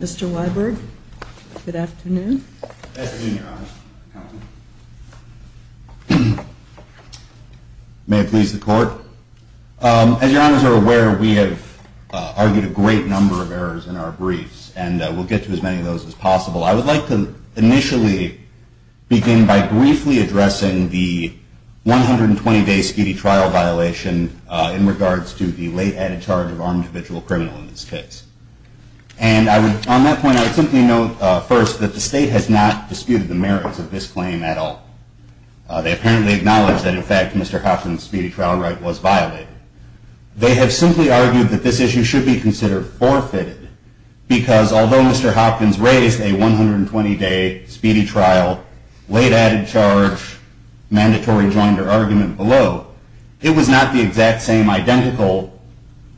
Mr. Weiberg, good afternoon. Good afternoon, Your Honor. May it please the Court. As Your Honors are aware, we have argued a great number of errors in our briefs, and we'll get to as many of those as possible. I would like to initially begin by briefly addressing the 120-day speedy trial violation in regards to the late added charge of armed individual criminal in this case. And on that point, I would simply note first that the state has not disputed the merits of this claim at all. They apparently acknowledge that, in fact, Mr. Hopkins' speedy trial right was violated. They have simply argued that this issue should be considered forfeited, because although Mr. Hopkins raised a 120-day speedy trial, late added charge, mandatory joinder argument below, it was not the exact same identical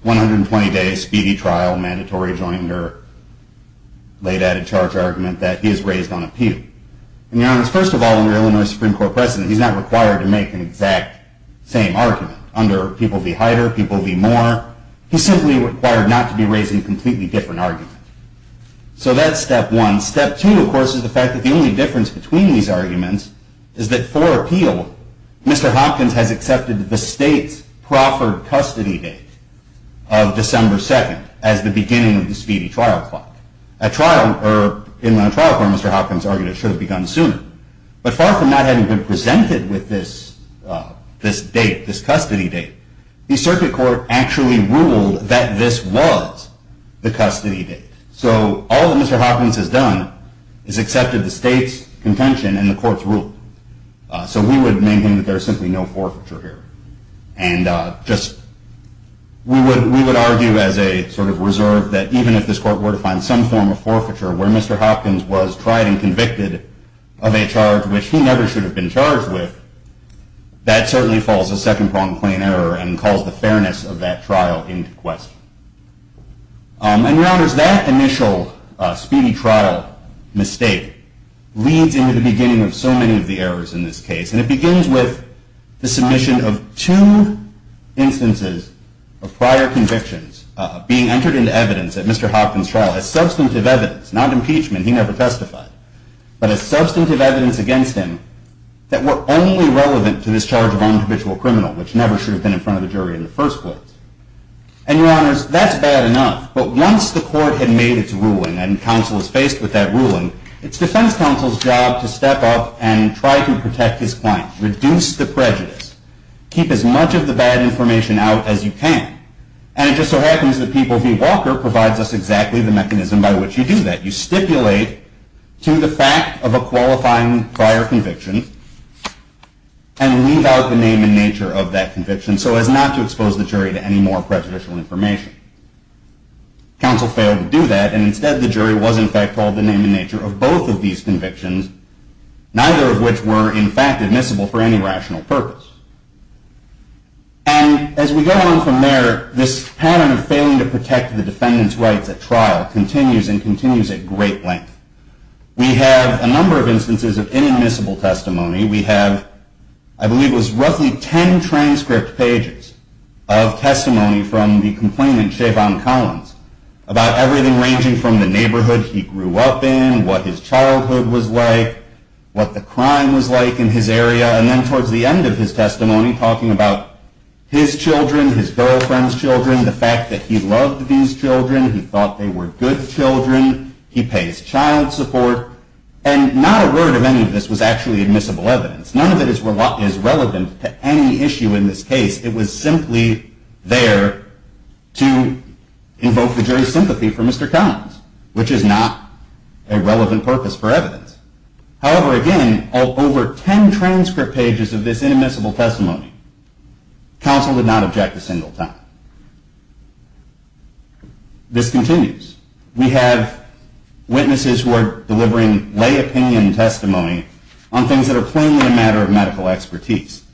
120-day speedy trial, mandatory joinder, late added charge argument that he has raised on appeal. And Your Honors, first of all, under Illinois Supreme Court precedent, he's not required to make an exact same argument. Under People v. Hyder, People v. Moore, he's simply required not to be raising a completely different argument. So that's step one. Step two, of course, is the fact that the only difference between these arguments is that for appeal, Mr. Hopkins has accepted the state's proffered custody date of December 2nd as the beginning of the speedy trial clock. In the trial court, Mr. Hopkins argued it should have begun sooner. But far from not having been presented with this date, this custody date, the circuit court actually ruled that this was the custody date. So all that Mr. Hopkins has done is accepted the state's contention and the court's rule. So we would maintain that there is simply no forfeiture here. And we would argue as a sort of reserve that even if this court were to find some form of forfeiture where Mr. Hopkins was tried and convicted of a charge which he never should have been charged with, that certainly falls a second-pronged claim and error and calls the fairness of that trial into question. And, Your Honors, that initial speedy trial mistake leads into the beginning of so many of the errors in this case. And it begins with the submission of two instances of prior convictions being entered into evidence at Mr. Hopkins' trial as substantive evidence, not impeachment, he never testified, but as substantive evidence against him that were only relevant to this charge of unhabitual criminal, which never should have been in front of the jury in the first place. And, Your Honors, that's bad enough. But once the court had made its ruling and counsel is faced with that ruling, it's defense counsel's job to step up and try to protect his client, reduce the prejudice, keep as much of the bad information out as you can. And it just so happens that P. Walker provides us exactly the mechanism by which you do that. You stipulate to the fact of a qualifying prior conviction and leave out the name and nature of that conviction so as not to expose the jury to any more prejudicial information. Counsel failed to do that, and instead the jury was, in fact, called the name and nature of both of these convictions, neither of which were, in fact, admissible for any rational purpose. And as we go on from there, this pattern of failing to protect the defendant's rights at trial continues and continues at great length. We have a number of instances of inadmissible testimony. We have, I believe it was roughly 10 transcript pages of testimony from the complainant, Chayvon Collins, about everything ranging from the neighborhood he grew up in, what his childhood was like, what the crime was like in his area, and then towards the end of his testimony, talking about his children, his girlfriend's children, the fact that he loved these children, he thought they were good children, he pays child support. And not a word of any of this was actually admissible evidence. None of it is relevant to any issue in this case. It was simply there to invoke the jury's sympathy for Mr. Collins, which is not a relevant purpose for evidence. However, again, over 10 transcript pages of this inadmissible testimony, counsel did not object a single time. This continues. We have witnesses who are delivering lay opinion testimony on things that are plainly a matter of medical expertise.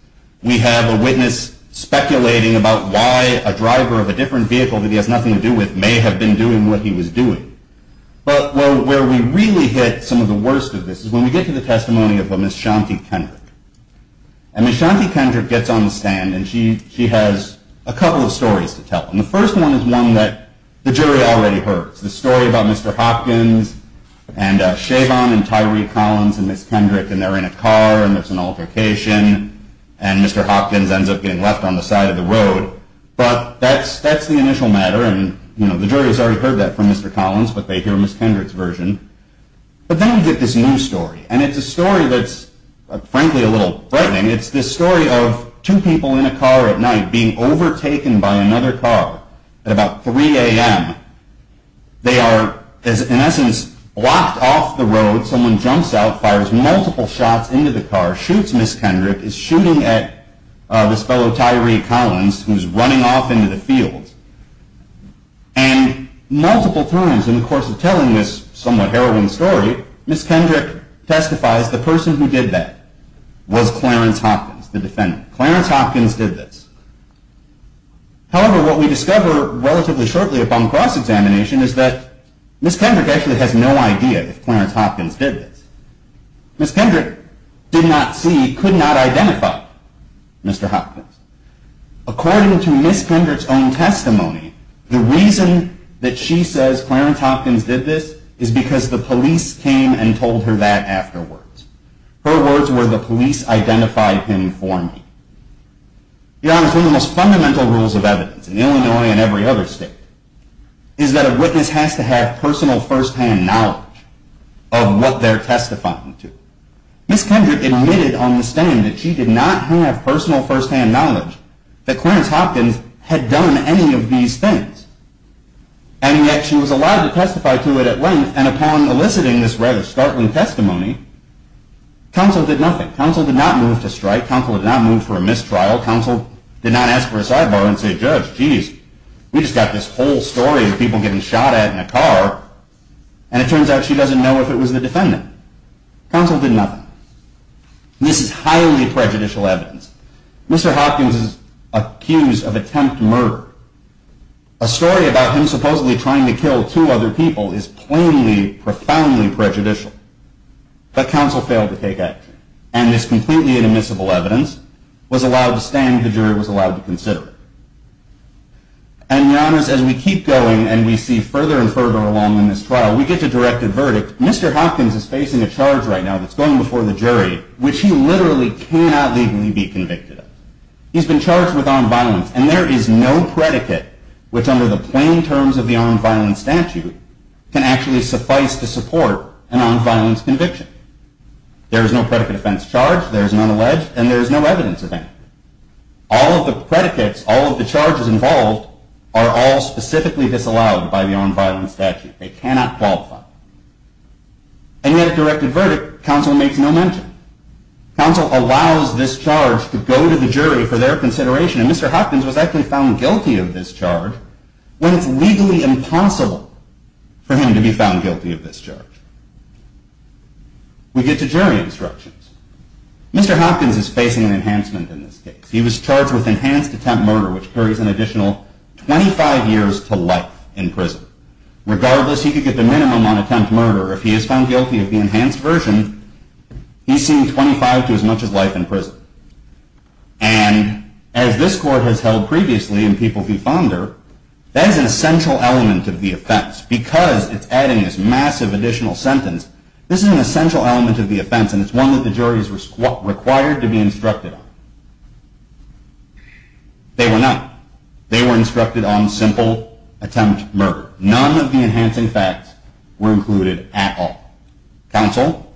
We have a witness speculating about why a driver of a different vehicle that he has nothing to do with may have been doing what he was doing. But where we really hit some of the worst of this is when we get to the stories to tell. And the first one is one that the jury already heard, the story about Mr. Hopkins and Chabon and Tyree Collins and Ms. Kendrick, and they're in a car and there's an altercation, and Mr. Hopkins ends up getting left on the side of the road. But that's the initial matter, and the jury has already heard that from Mr. Collins, but they hear Ms. Kendrick's version. But then we get this new story, and it's a story that's, frankly, a little frightening. It's this story of two people in a car at night being overtaken by another car at about 3 a.m. They are, in essence, blocked off the road. Someone jumps out, fires multiple shots into the car, shoots Ms. Kendrick, is shooting at this fellow, Tyree Collins, who's running off into the field. And multiple times in the course of telling this somewhat heroine story, Ms. Kendrick testifies the person who did that was Clarence Hopkins, the defendant. Clarence Hopkins did this. However, what we discover relatively shortly upon cross-examination is that Ms. Kendrick actually has no idea if Clarence Hopkins did this. Ms. Kendrick did not see, could not identify Mr. Hopkins. According to Ms. Kendrick's own testimony, the reason that she says Clarence Hopkins did this is because the police came and told her that afterwards. Her words were, the police identified him for me. To be honest, one of the most fundamental rules of evidence in Illinois and every other state is that a witness has to have personal first-hand knowledge of what they're testifying to. Ms. Kendrick admitted on the stand that she did not have personal first-hand knowledge that Clarence Hopkins had done any of these things. And yet she was allowed to testify to it at length, and upon eliciting this rather startling testimony, counsel did nothing. Counsel did not move to strike. Counsel did not move for a mistrial. Counsel did not ask for a sidebar and say, judge, geez, we just got this whole story of people getting shot at in a car, and it turns out she doesn't know if it was the defendant. Counsel did not accuse of attempt murder. A story about him supposedly trying to kill two other people is plainly, profoundly prejudicial. But counsel failed to take action. And this completely inadmissible evidence was allowed to stand. The jury was allowed to consider it. And to be honest, as we keep going and we see further and further along in this trial, we get to directed verdict. Mr. Hopkins is facing a charge right now that's going before the jury, which he literally cannot legally be convicted of. He's been charged with armed violence, and there is no predicate which, under the plain terms of the armed violence statute, can actually suffice to support an armed violence conviction. There is no predicate offense charge, there is none alleged, and there is no evidence of that. All of the predicates, all of the charges involved, are all specifically disallowed by the armed violence statute. They cannot qualify. And yet at directed verdict, counsel makes no mention. Counsel allows this charge to go to the jury for their consideration, and Mr. Hopkins was actually found guilty of this charge when it's legally impossible for him to be found guilty of this charge. We get to jury instructions. Mr. Hopkins is facing an enhancement in this case. He was charged with enhanced attempt murder, which carries an additional 25 years to life in prison. Regardless, he could get the minimum on attempt murder. If he is found guilty of the enhanced version, he's seen 25 to as much as life in prison. And as this court has held previously in People v. Fonder, that is an essential element of the offense. Because it's adding this massive additional sentence, this is an essential element of the offense, and it's one that the jury is required to be instructed on. They were not. They were instructed on simple attempt murder. None of the enhancing facts were included at all. Counsel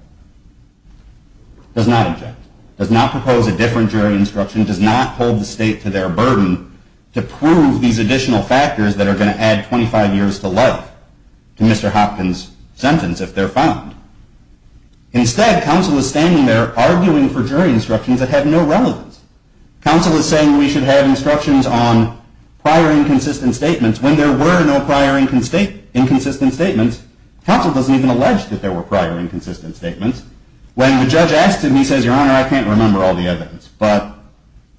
does not object, does not propose a different jury instruction, does not hold the state to their burden to prove these additional factors that are going to add 25 years to life to Mr. Hopkins' sentence if they're found. Instead, counsel is standing there arguing for jury instructions that have no relevance. Counsel is saying we should have instructions on prior inconsistent statements when there were no prior inconsistent statements. Counsel doesn't even allege that there were prior inconsistent statements. When the judge asks him, he says, Your Honor, I can't remember all the evidence. But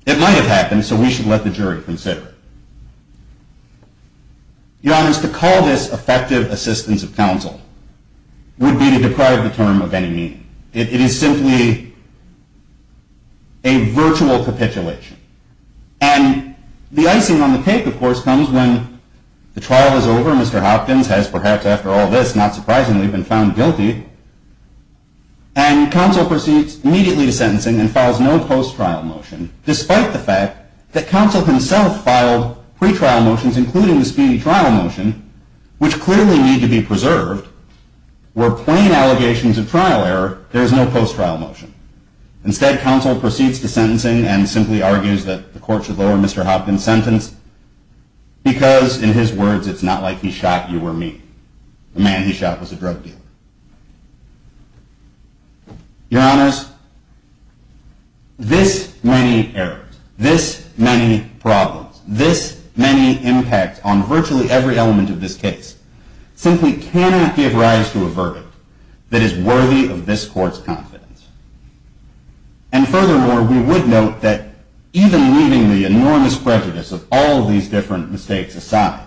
it might have happened, so we should let the jury consider it. Your Honors, to call this effective assistance of counsel would be to deprive the term of any meaning. It is simply a virtual capitulation. And the divorce comes when the trial is over. Mr. Hopkins has, perhaps after all this, not surprisingly, been found guilty. And counsel proceeds immediately to sentencing and files no post-trial motion, despite the fact that counsel himself filed pre-trial motions, including the speedy trial motion, which clearly need to be preserved, where plain allegations of trial error, there is no post-trial motion. Instead, counsel proceeds to sentencing and simply argues that the court should lower Mr. Hopkins' sentence because, in his words, it's not like he shot you or me, the man he shot was a drug dealer. Your Honors, this many errors, this many problems, this many impacts on virtually every element of this case simply cannot give rise to a verdict that is worthy of this court's confidence. And furthermore, we would note that even leaving the enormous prejudice of all these different mistakes aside,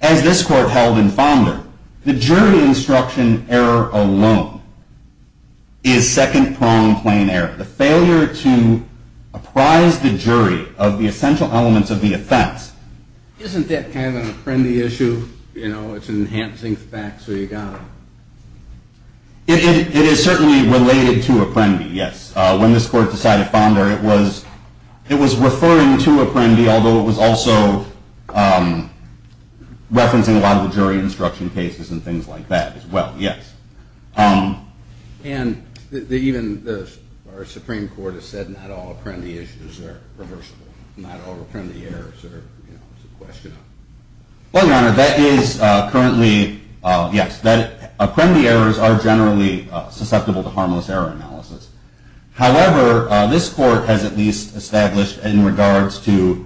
as this court held in Fonder, the jury instruction error alone is second-pronged plain error. The failure to apprise the jury of the essential elements of the offense. Isn't that kind of an Apprendi issue? You know, it's enhancing the facts so you got them. It is certainly related to Apprendi, yes. When this court decided Fonder, it was referring to Apprendi, although it was also referencing a lot of the jury instruction cases and things like that as well, yes. And even the Supreme Court has said not all Apprendi issues are reversible, not all Apprendi errors are, you know, it's a question of. Well, Your Honor, that is currently, yes, that Apprendi errors are generally susceptible to harmless error analysis. However, this court has at least established in regards to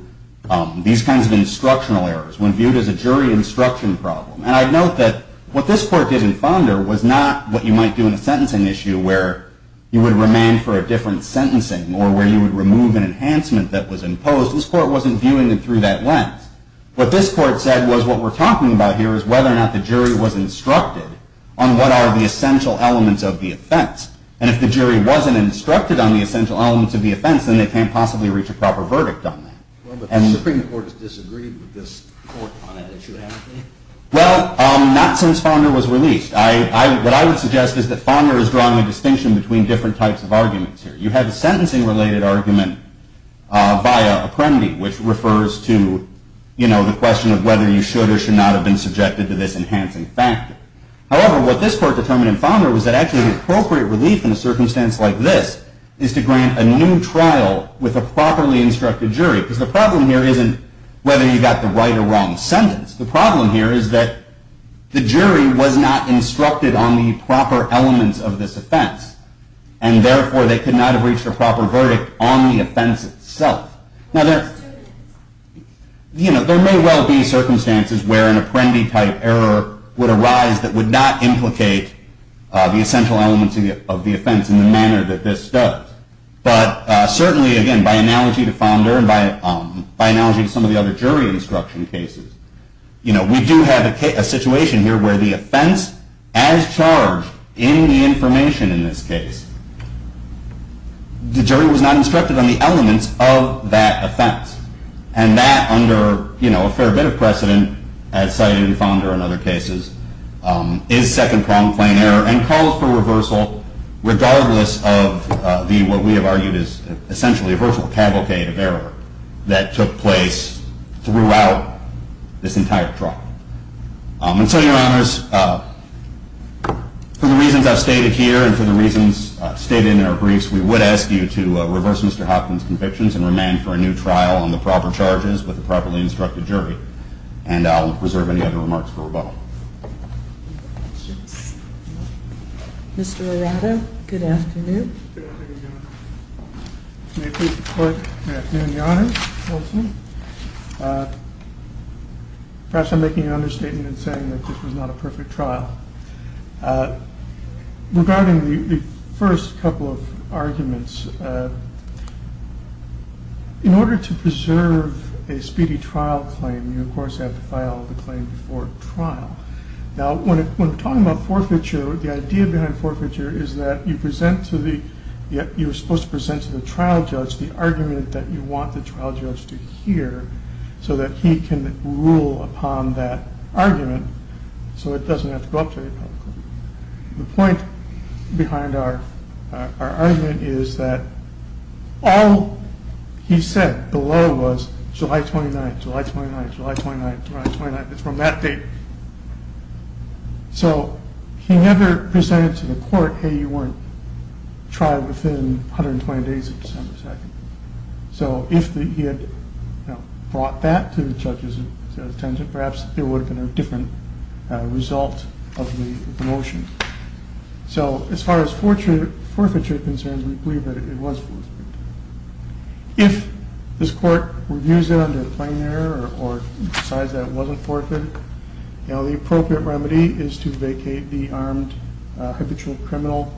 these kinds of instructional errors when viewed as a jury instruction problem. And I'd note that what this court did in Fonder was not what you might do in a sentencing issue where you would remand for a different sentencing or where you would remove an enhancement that was imposed. This court wasn't viewing it through that lens. What this court said was what we're talking about here is whether or not the jury was instructed on what are the essential elements of the offense. And if the jury wasn't instructed on the essential elements of the offense, then they can't possibly reach a proper verdict on that. Well, but the Supreme Court has disagreed with this court on an issue, hasn't it? Well, not since Fonder was released. What I would suggest is that Fonder is drawing a distinction between different types of arguments here. You have a sentencing-related argument via Apprendi, which refers to, you know, the question of whether you should or should not have been subjected to this enhancing factor. However, what this court determined in Fonder was that actually the appropriate relief in a circumstance like this is to grant a new trial with a properly instructed jury. Because the problem here isn't whether you got the right or wrong sentence. The problem here is that the jury was not instructed on the proper elements of this offense. And therefore, they could not have reached a proper verdict on the offense itself. Now, there may well be circumstances where an Apprendi-type error would arise that would not implicate the essential elements of the offense in the manner that this does. But certainly, again, by analogy to Fonder and by analogy to some of the other jury instruction cases, we do have a situation here where the offense, as charged in the information in this case, the jury was not instructed on the elements of that offense. And that, under a fair bit of precedent, as cited in Fonder and other cases, is second-pronged plain error and calls for reversal regardless of what we have argued is essentially a virtual cavalcade of error that took place throughout this entire trial. And so, Your Honors, for the reasons I've stated here and for the reasons stated in our briefs, we would ask you to reverse Mr. Hopkins' convictions and remain for a new trial on the proper charges with a properly instructed jury. And I'll reserve any other remarks for rebuttal. Mr. Arado, good afternoon. Good afternoon, Your Honor. May I please report? Good afternoon, Your Honor. Perhaps I'm making an understatement in saying that this was not a perfect trial. Regarding the first couple of arguments, in order to preserve a speedy trial claim, you of course have to file the claim before trial. Now, when we're talking about forfeiture, the idea behind forfeiture is that you present to the, you're supposed to present to the trial judge the argument that you want the trial judge to hear so that he can rule upon that argument so it doesn't have to go up to you publicly. The point behind our argument is that all he said below was July 29th, July 29th, July 29th, July 29th, it's from that date. So he never presented to the court, hey, you weren't trial within 120 days of December 2nd. So if he had brought that to the judge's attention, perhaps it would have been a different result of the motion. So as far as forfeiture concerns, we believe that it was forfeiture. If this court reviews it under a plain error or decides that it was forfeiture, the appropriate remedy is to vacate the armed habitual criminal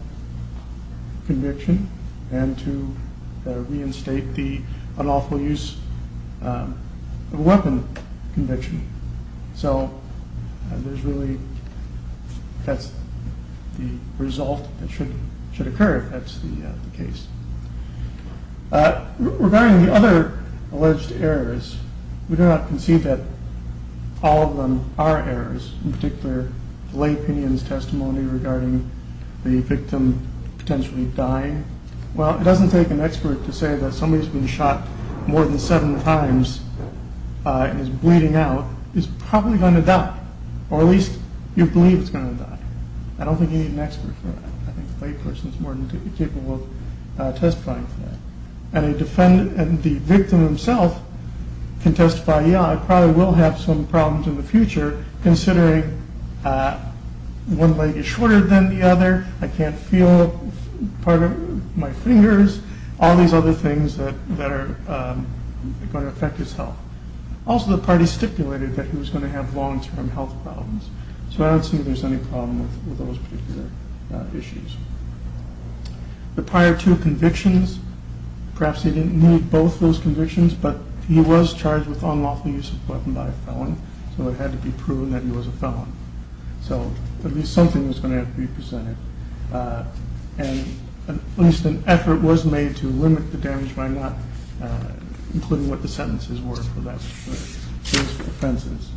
conviction and to reinstate the unlawful use of a weapon conviction. So there's really, that's the result that should occur if that's the case. Regarding the other alleged errors, we do not concede that all of them are errors, in particular the lay opinion's testimony regarding the victim potentially dying. Well, it doesn't take an expert to say that somebody who's been shot more than seven times and is bleeding out is probably going to die, or at least you believe it's going to die. I don't think you need an expert for that. I think the lay person is more than capable of testifying for that. And the victim himself can testify, yeah, I probably will have some problems in the future considering one leg is shorter than the other, I can't feel part of my fingers, all these other things that are going to affect his health. Also the party stipulated that he was going to have long-term health problems, so I don't see there's any problem with those particular issues. The prior two convictions, perhaps he didn't need both of those convictions, but he was charged with unlawful use of a weapon by a felon, so it had to be proven that he was a felon. So at least something was going to have to be presented. And at least an effort was made to limit the damage by not including what the sentences were for those offenses.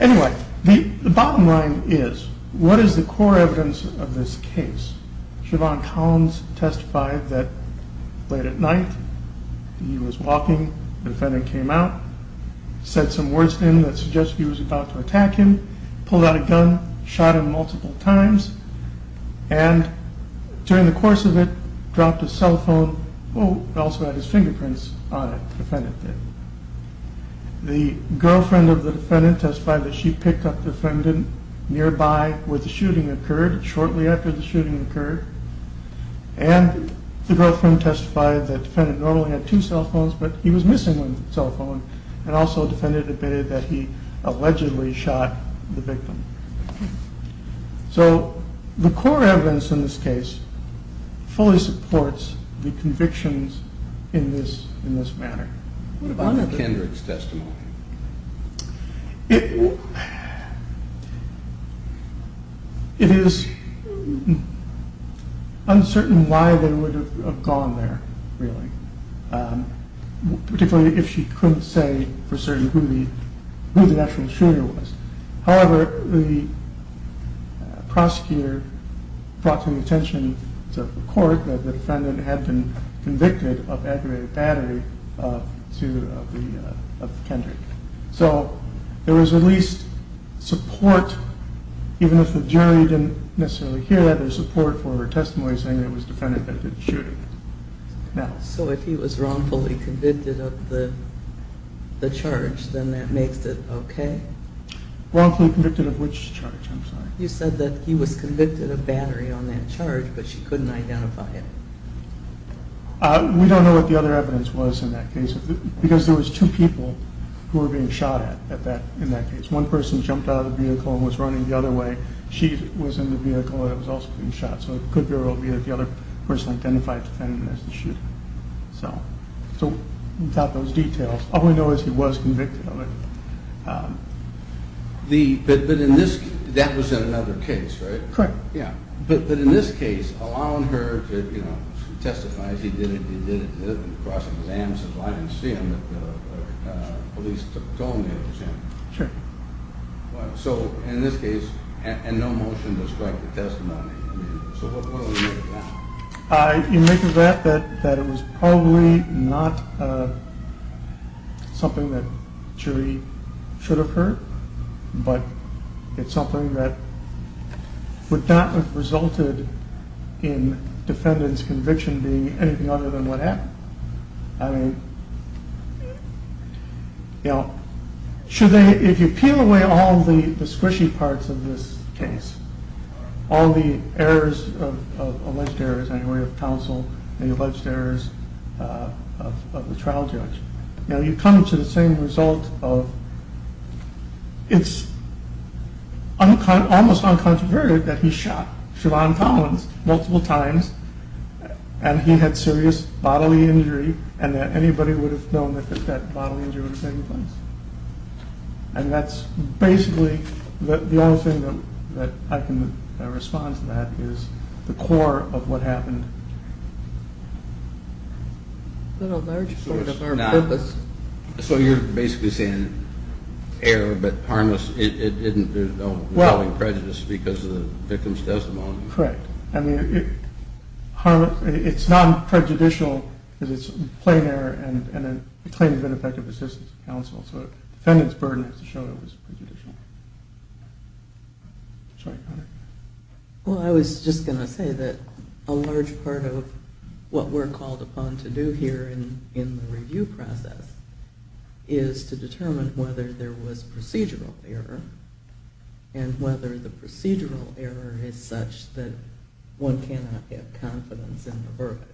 Anyway, the bottom line is, what is the core evidence of this case? Siobhan Collins testified that late at night, he was walking, the defendant came out, said some words to him that suggested he was about to attack him, pulled out a gun, shot him multiple times, and during the course of it, dropped his cell phone, oh, also had his fingerprints on it, the defendant did. The girlfriend of the defendant testified that she picked up the defendant nearby where the shooting occurred, shortly after the shooting occurred, and the girlfriend testified that the defendant normally had two cell phones, but he was missing one cell phone, and also the defendant admitted that he allegedly shot the victim. So the core evidence in this case fully supports the convictions in this manner. What about Kendrick's testimony? It is uncertain why they would have gone there, really, particularly if she couldn't say for certain who the actual shooter was. However, the prosecutor brought to the attention of the court that the defendant had been convicted of aggravated battery of Kendrick. So there was at least support, even if the jury didn't necessarily hear that, there was support for her testimony saying it was the defendant that did the shooting. So if he was wrongfully convicted of the charge, then that makes it okay? Wrongfully convicted of which charge, I'm sorry? You said that he was convicted of battery on that charge, but she couldn't identify it. We don't know what the other evidence was in that case, because there was two people who were being shot at in that case. One person jumped out of the vehicle and was running the other way, she was in the vehicle and was also being shot, so it could very well be that the other person identified the defendant as the shooter. So without those details, all we know is he was convicted of it. But that was in another case, right? Correct. But in this case, allowing her to testify that he did it, he did it, he did it, I didn't see him, but the police told me it was him. Sure. So in this case, and no motion to strike the testimony, so what do we make of that? You make of that that it was probably not something that the jury should have heard, but it's something that would not have resulted in the defendant's conviction being anything other than what happened. I mean, you know, should they, if you peel away all the squishy parts of this case, all the errors, alleged errors anyway, of counsel, the alleged errors of the trial judge, you know, you come to the same result of, it's almost uncontroverted that he shot Siobhan Collins multiple times, and he had serious bodily injury, and that anybody would have known that that bodily injury would have taken place. And that's basically the only thing that I can respond to that is the core of what happened. Is that a large part of our purpose? So you're basically saying error, but harmless, there's no knowing prejudice because of the victim's testimony. Correct. I mean, it's non-prejudicial because it's plain error and a claim of ineffective assistance of counsel, so the defendant's burden has to show that it was prejudicial. Well, I was just going to say that a large part of what we're called upon to do here in the review process is to determine whether there was procedural error and whether the procedural error is such that one cannot have confidence in the verdict.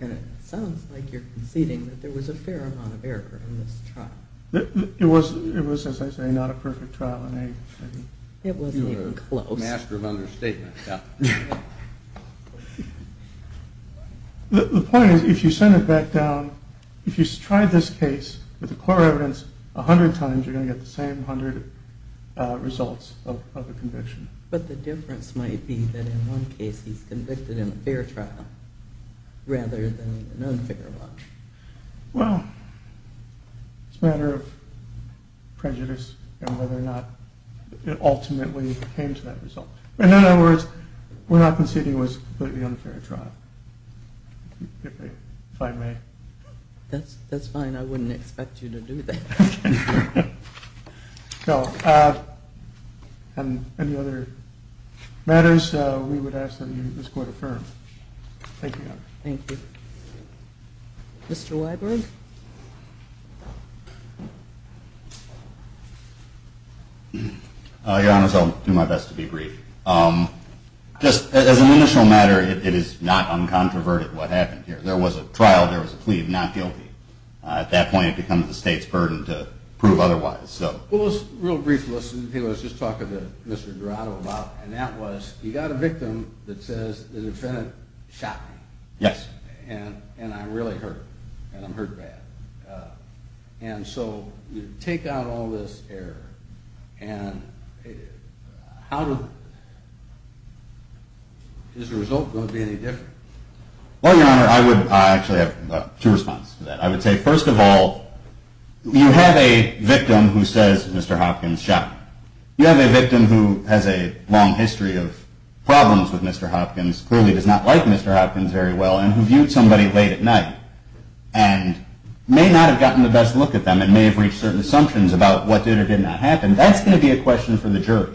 And it sounds like you're conceding that there was a fair amount of error in this trial. It was, as I say, not a perfect trial in any way. It wasn't even close. You're a master of understatement. The point is, if you send it back down, if you tried this case with the core evidence 100 times, you're going to get the same 100 results of the conviction. But the difference might be that in one case he's convicted in a fair trial rather than an unfair one. Well, it's a matter of prejudice and whether or not it ultimately came to that result. In other words, we're not conceding it was a completely unfair trial, if I may. That's fine. I wouldn't expect you to do that. No. Any other matters we would ask that this court affirm. Thank you, Your Honor. Thank you. Mr. Weiberg. Your Honor, I'll do my best to be brief. Just as an initial matter, it is not uncontroverted what happened here. There was a trial. There was a plea of not guilty. At that point, it becomes the state's burden to prove otherwise. Well, let's be real brief. Let's just talk to Mr. Durato about it. And that was, you got a victim that says, the defendant shot me. Yes. And I'm really hurt. And I'm hurt bad. And so you take out all this error. And is the result going to be any different? Well, Your Honor, I actually have two responses to that. I would say, first of all, you have a victim who says Mr. Hopkins shot me. You have a victim who has a long history of problems with Mr. Hopkins, clearly does not like Mr. Hopkins very well, and who viewed somebody late at night and may not have gotten the best look at them and may have reached certain assumptions about what did or did not happen. That's going to be a question for the jury.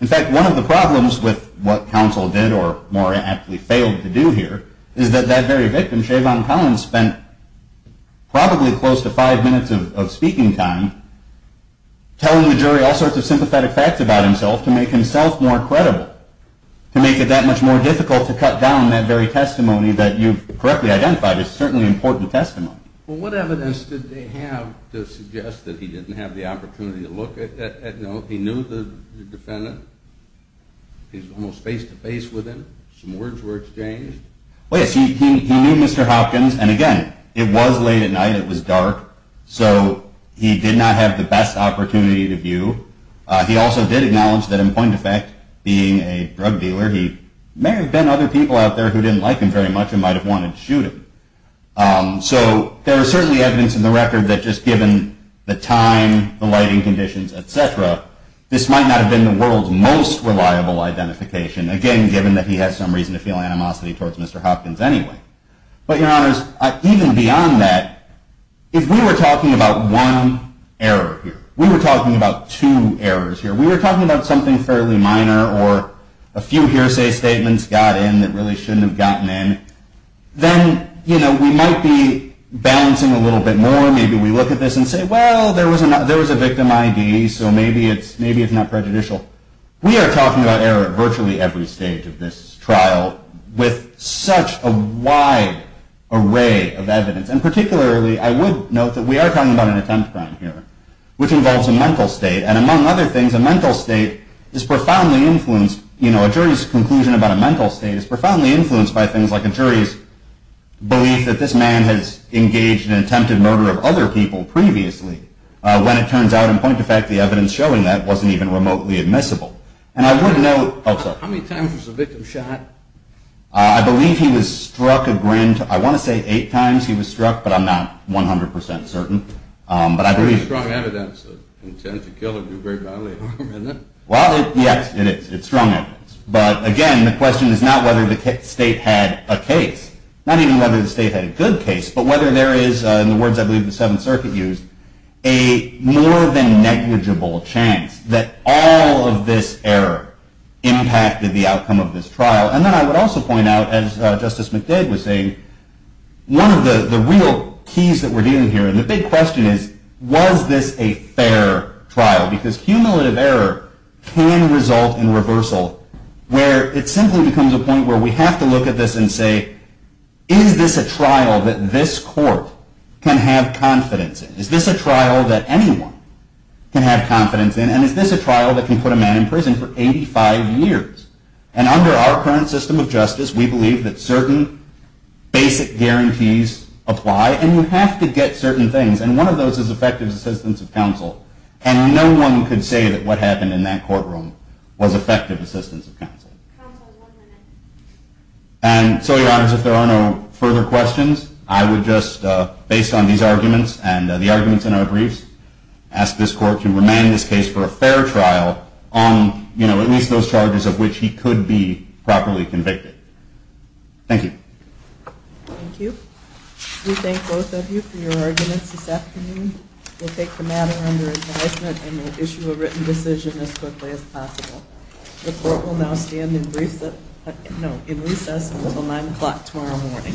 In fact, one of the problems with what counsel did or more aptly failed to do here is that that very victim, Shavon Collins, spent probably close to five minutes of speaking time telling the jury all sorts of sympathetic facts about himself to make himself more credible, to make it that much more difficult to cut down that very testimony that you've correctly identified. It's certainly important testimony. Well, what evidence did they have to suggest that he didn't have the opportunity to look at notes? He knew the defendant. He was almost face-to-face with him. Some words were exchanged. Well, yes, he knew Mr. Hopkins, and again, it was late at night, it was dark, so he did not have the best opportunity to view. He also did acknowledge that, in point of fact, being a drug dealer, he may have been other people out there who didn't like him very much and might have wanted to shoot him. So there is certainly evidence in the record that just given the time, the lighting conditions, et cetera, this might not have been the world's most reliable identification, again, given that he had some reason to feel animosity towards Mr. Hopkins anyway. But, Your Honors, even beyond that, if we were talking about one error here, we were talking about two errors here, we were talking about something fairly minor or a few hearsay statements got in that really shouldn't have gotten in, then we might be balancing a little bit more. Maybe we look at this and say, well, there was a victim ID, so maybe it's not prejudicial. We are talking about error at virtually every stage of this trial with such a wide array of evidence. And particularly, I would note that we are talking about an attempt crime here, which involves a mental state, and among other things, a mental state is profoundly influenced, you know, a jury's conclusion about a mental state is profoundly influenced by things like a jury's belief that this man has engaged in an attempted murder of other people previously, when it turns out, in point of fact, the evidence showing that wasn't even remotely admissible. And I would note... How many times was the victim shot? I believe he was struck a grand... I want to say eight times he was struck, but I'm not 100% certain. But I believe... That's pretty strong evidence that an attempted killer can do very badly. Well, yes, it is. It's strong evidence. But, again, the question is not whether the state had a case, not even whether the state had a good case, but whether there is, in the words I believe the Seventh Circuit used, a more than negligible chance that all of this error impacted the outcome of this trial. And then I would also point out, as Justice McDade was saying, one of the real keys that we're dealing here, and the big question is, was this a fair trial? Because cumulative error can result in reversal, where it simply becomes a point where we have to look at this and say, is this a trial that this court can have confidence in? Is this a trial that anyone can have confidence in? And is this a trial that can put a man in prison for 85 years? And under our current system of justice, we believe that certain basic guarantees apply, and you have to get certain things, and one of those is effective assistance of counsel. And no one could say that what happened in that courtroom was effective assistance of counsel. Counsel, one minute. And so, Your Honors, if there are no further questions, I would just, based on these arguments and the arguments in our briefs, ask this court to remain in this case for a fair trial on, you know, at least those charges of which he could be properly convicted. Thank you. Thank you. We thank both of you for your arguments this afternoon. We'll take the matter under advisement and we'll issue a written decision as quickly as possible. The court will now stand in recess until 9 o'clock tomorrow morning.